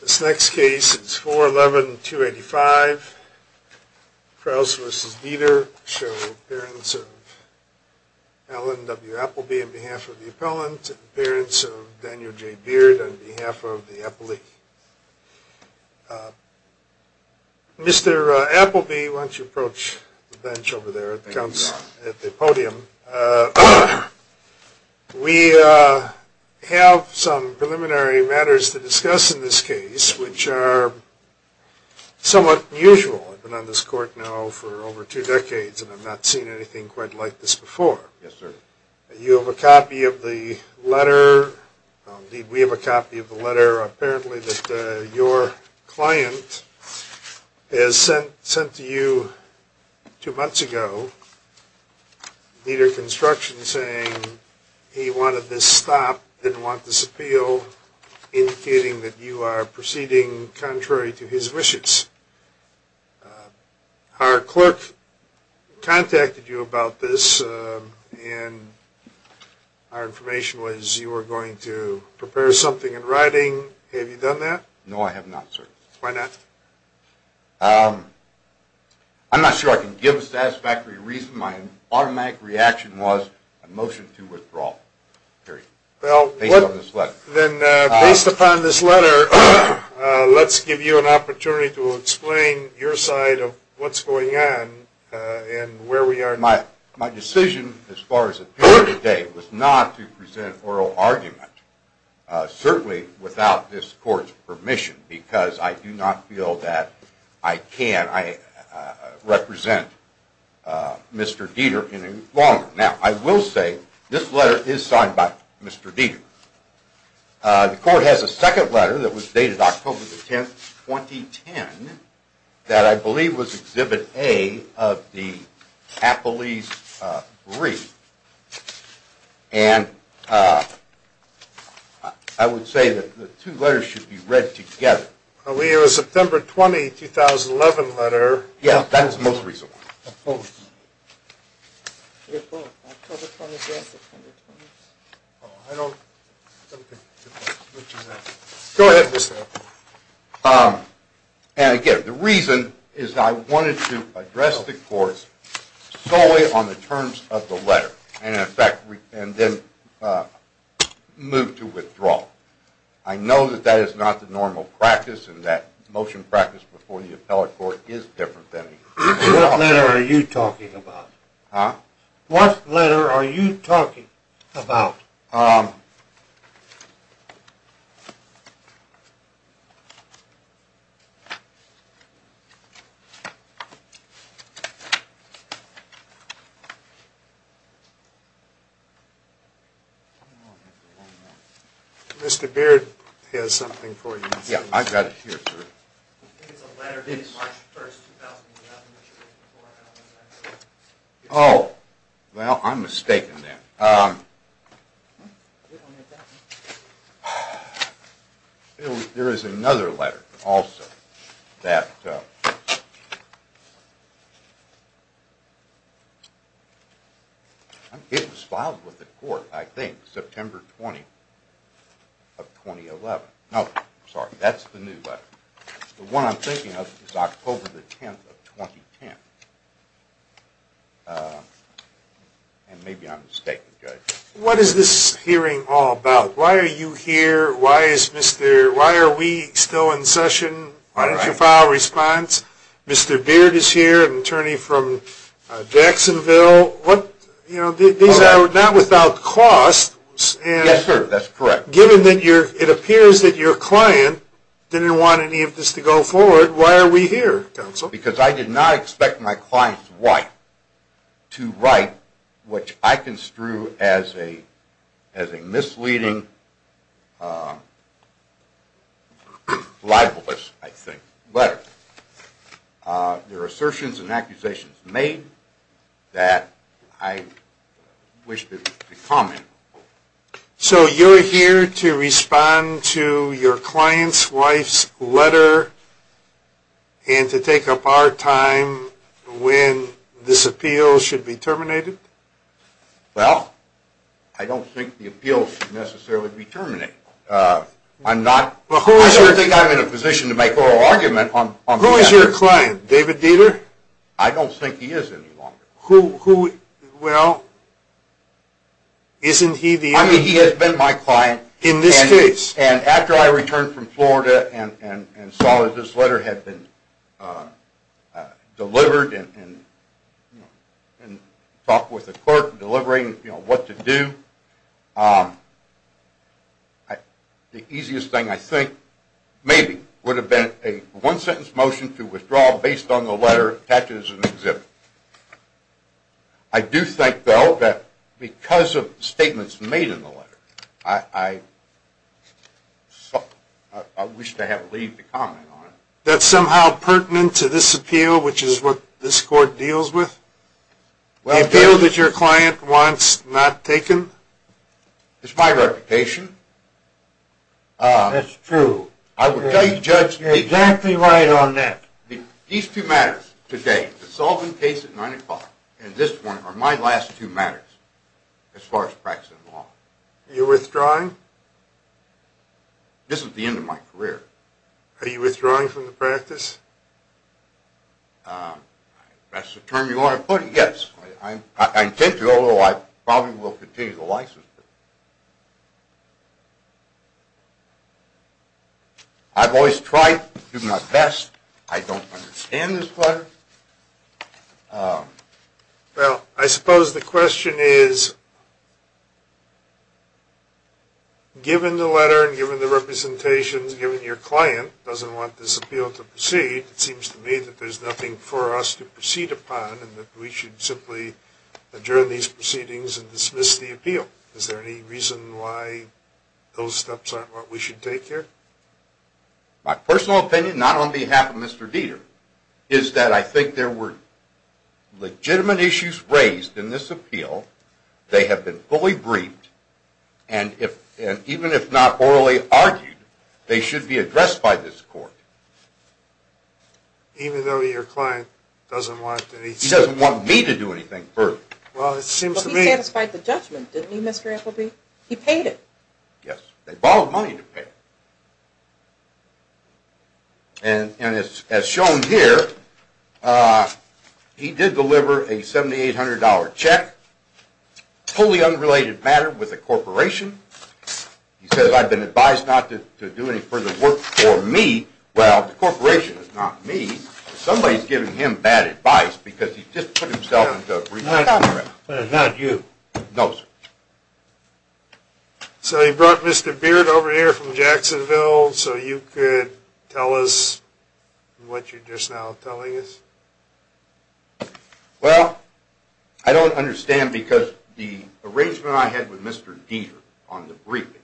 This next case is 411-285, Crouse v. Deeder, showing the appearance of Alan W. Appleby on behalf of the appellant, and the appearance of Daniel J. Beard on behalf of the appellee. Mr. Appleby, why don't you approach the bench over there at the podium. We have some preliminary matters to discuss in this case, which are somewhat unusual. I've been on this court now for over two decades, and I've not seen anything quite like this before. You have a copy of the letter. We have a copy of the letter, apparently, that your client has sent to you two months ago, Deeder Construction, saying he wanted this stopped, didn't want this appealed, indicating that you are proceeding contrary to his wishes. Our clerk contacted you about this, and our information was you were going to prepare something in writing. Have you done that? No, I have not, sir. Why not? I'm not sure I can give a satisfactory reason. My automatic reaction was a motion to withdraw, period, based on this letter. Then, based upon this letter, let's give you an opportunity to explain your side of what's going on and where we are now. My decision as far as appearing today was not to present an oral argument, certainly without this court's permission, because I do not feel that I can represent Mr. Deeder any longer. Now, I will say this letter is signed by Mr. Deeder. The court has a second letter that was dated October the 10th, 2010, that I believe was Exhibit A of the Appellee's brief, and I would say that the two letters should be read together. We have a September 20, 2011 letter. Yeah, that is the most recent one. I oppose. I oppose October 20th and September 20th. Oh, I don't think we can do that. Go ahead, Mr. Appellate. And, again, the reason is that I wanted to address the court solely on the terms of the letter, and then move to withdrawal. I know that that is not the normal practice, and that motion practice before the appellate court is different than… What letter are you talking about? Huh? What letter are you talking about? Um… Mr. Beard has something for you. Yeah, I've got it here. I think it's a letter dated March 1st, 2011. Oh, well, I'm mistaken then. There is another letter also that… It was filed with the court, I think, September 20th of 2011. No, sorry, that's the new letter. The one I'm thinking of is October 10th of 2010. And maybe I'm mistaken, Judge. What is this hearing all about? Why are you here? Why are we still in session? Why don't you file a response? Mr. Beard is here, an attorney from Jacksonville. These are not without cost. Yes, sir, that's correct. Given that it appears that your client didn't want any of this to go forward, why are we here, counsel? Because I did not expect my client's wife to write what I construe as a misleading, libelous, I think, letter. There are assertions and accusations made that I wish to comment. So you're here to respond to your client's wife's letter and to take up our time when this appeal should be terminated? Well, I don't think the appeal should necessarily be terminated. I don't think I'm in a position to make oral argument on that. Who is your client, David Dieter? I don't think he is any longer. Well, isn't he the only one? I mean, he has been my client. In this case? And after I returned from Florida and saw that this letter had been delivered and talked with the court in delivering what to do, the easiest thing, I think, maybe, would have been a one-sentence motion to withdraw based on the letter attached as an exhibit. I do think, though, that because of statements made in the letter, I wish to have a leave to comment on it. That's somehow pertinent to this appeal, which is what this court deals with? The appeal that your client wants not taken? It's my reputation. That's true. I will tell you, Judge, you're exactly right on that. These two matters today, the Solvin case at 9 o'clock and this one, are my last two matters as far as practicing law. Are you withdrawing? This is the end of my career. Are you withdrawing from the practice? That's the term you want to put it? Yes. I intend to, although I probably will continue to license it. I've always tried to do my best. I don't understand this letter. Well, I suppose the question is, given the letter and given the representations, given your client doesn't want this appeal to proceed, it seems to me that there's nothing for us to proceed upon and that we should simply adjourn these proceedings and dismiss the appeal. Is there any reason why those steps aren't what we should take here? My personal opinion, not on behalf of Mr. Dieter, is that I think there were legitimate issues raised in this appeal. They have been fully briefed, and even if not orally argued, they should be addressed by this court. Even though your client doesn't want to do anything further? He doesn't want me to do anything further. Well, he satisfied the judgment, didn't he, Mr. Appleby? He paid it. Yes. They borrowed money to pay it. And as shown here, he did deliver a $7,800 check, fully unrelated matter with the corporation. He says, I've been advised not to do any further work for me. Well, the corporation is not me. Somebody's giving him bad advice because he just put himself into a brief contract. Not you. No, sir. So you brought Mr. Beard over here from Jacksonville so you could tell us what you're just now telling us? Well, I don't understand because the arrangement I had with Mr. Dieter on the briefing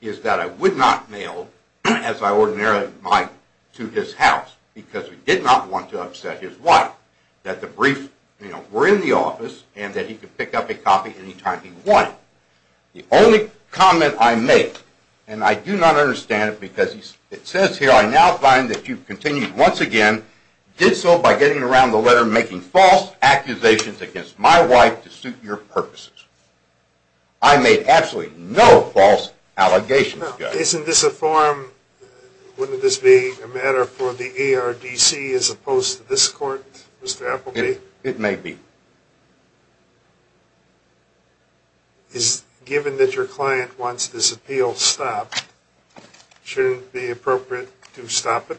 is that I would not mail, as I ordinarily might, to his house because he did not want to upset his wife that the brief were in the office and that he could pick up a copy any time he wanted. The only comment I made, and I do not understand it because it says here, I now find that you've continued once again, did so by getting around the letter making false accusations against my wife to suit your purposes. I made absolutely no false allegations, guys. Isn't this a form, wouldn't this be a matter for the ARDC as opposed to this court, Mr. Appleby? It may be. Given that your client wants this appeal stopped, shouldn't it be appropriate to stop it?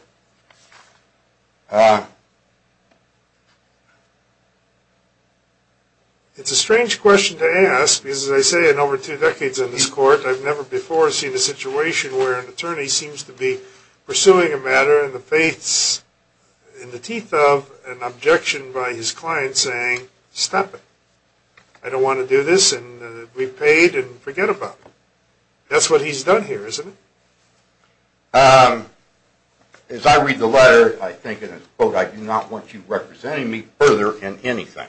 It's a strange question to ask because, as I say, in over two decades in this court, I've never before seen a situation where an attorney seems to be pursuing a matter in the teeth of an objection by his client saying stop it. I don't want to do this and be paid and forget about it. That's what he's done here, isn't it? As I read the letter, I think in his quote, I do not want you representing me further in anything.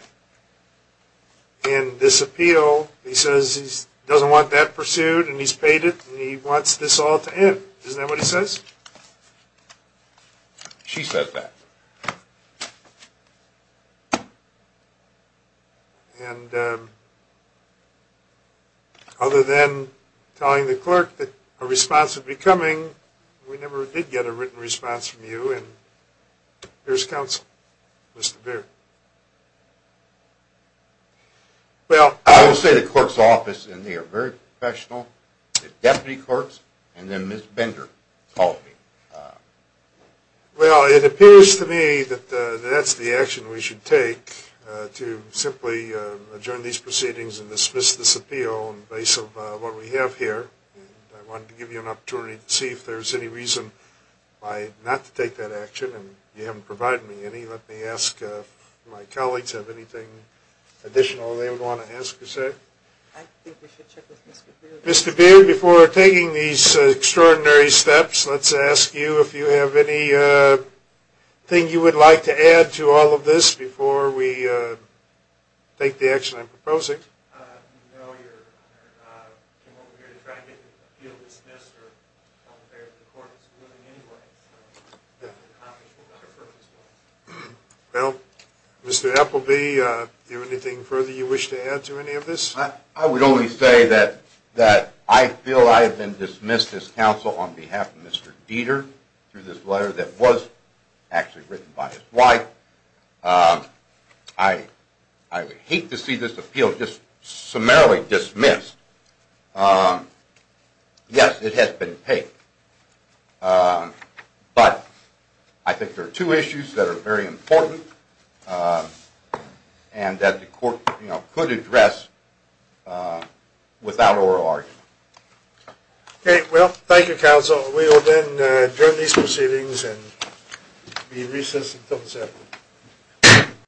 In this appeal, he says he doesn't want that pursued and he's paid it and he wants this all to end. Isn't that what he says? She said that. Other than telling the clerk that a response would be coming, we never did get a written response from you. Here's counsel, Mr. Beer. Well, I will say the clerk's office and they are very professional, the deputy clerk's and then Ms. Bender called me. Well, it appears to me that that's the action we should take to simply adjourn these proceedings and dismiss this appeal on the basis of what we have here. I wanted to give you an opportunity to see if there's any reason not to take that action. You haven't provided me any. Let me ask if my colleagues have anything additional they would want to ask or say. I think we should check with Mr. Beer. Mr. Beer, before taking these extraordinary steps, let's ask you if you have anything you would like to add to all of this before we take the action I'm proposing. No, Your Honor. I came over here to try to get the appeal dismissed. I'm not prepared for the court's ruling anyway. Well, Mr. Appleby, do you have anything further you wish to add to any of this? I would only say that I feel I have been dismissed as counsel on behalf of Mr. Dieter through this letter that was actually written by his wife. I would hate to see this appeal just summarily dismissed. Yes, it has been paid, but I think there are two issues that are very important and that the court could address without oral argument. Okay, well, thank you, counsel. We will then adjourn these proceedings and be recessed until the 7th.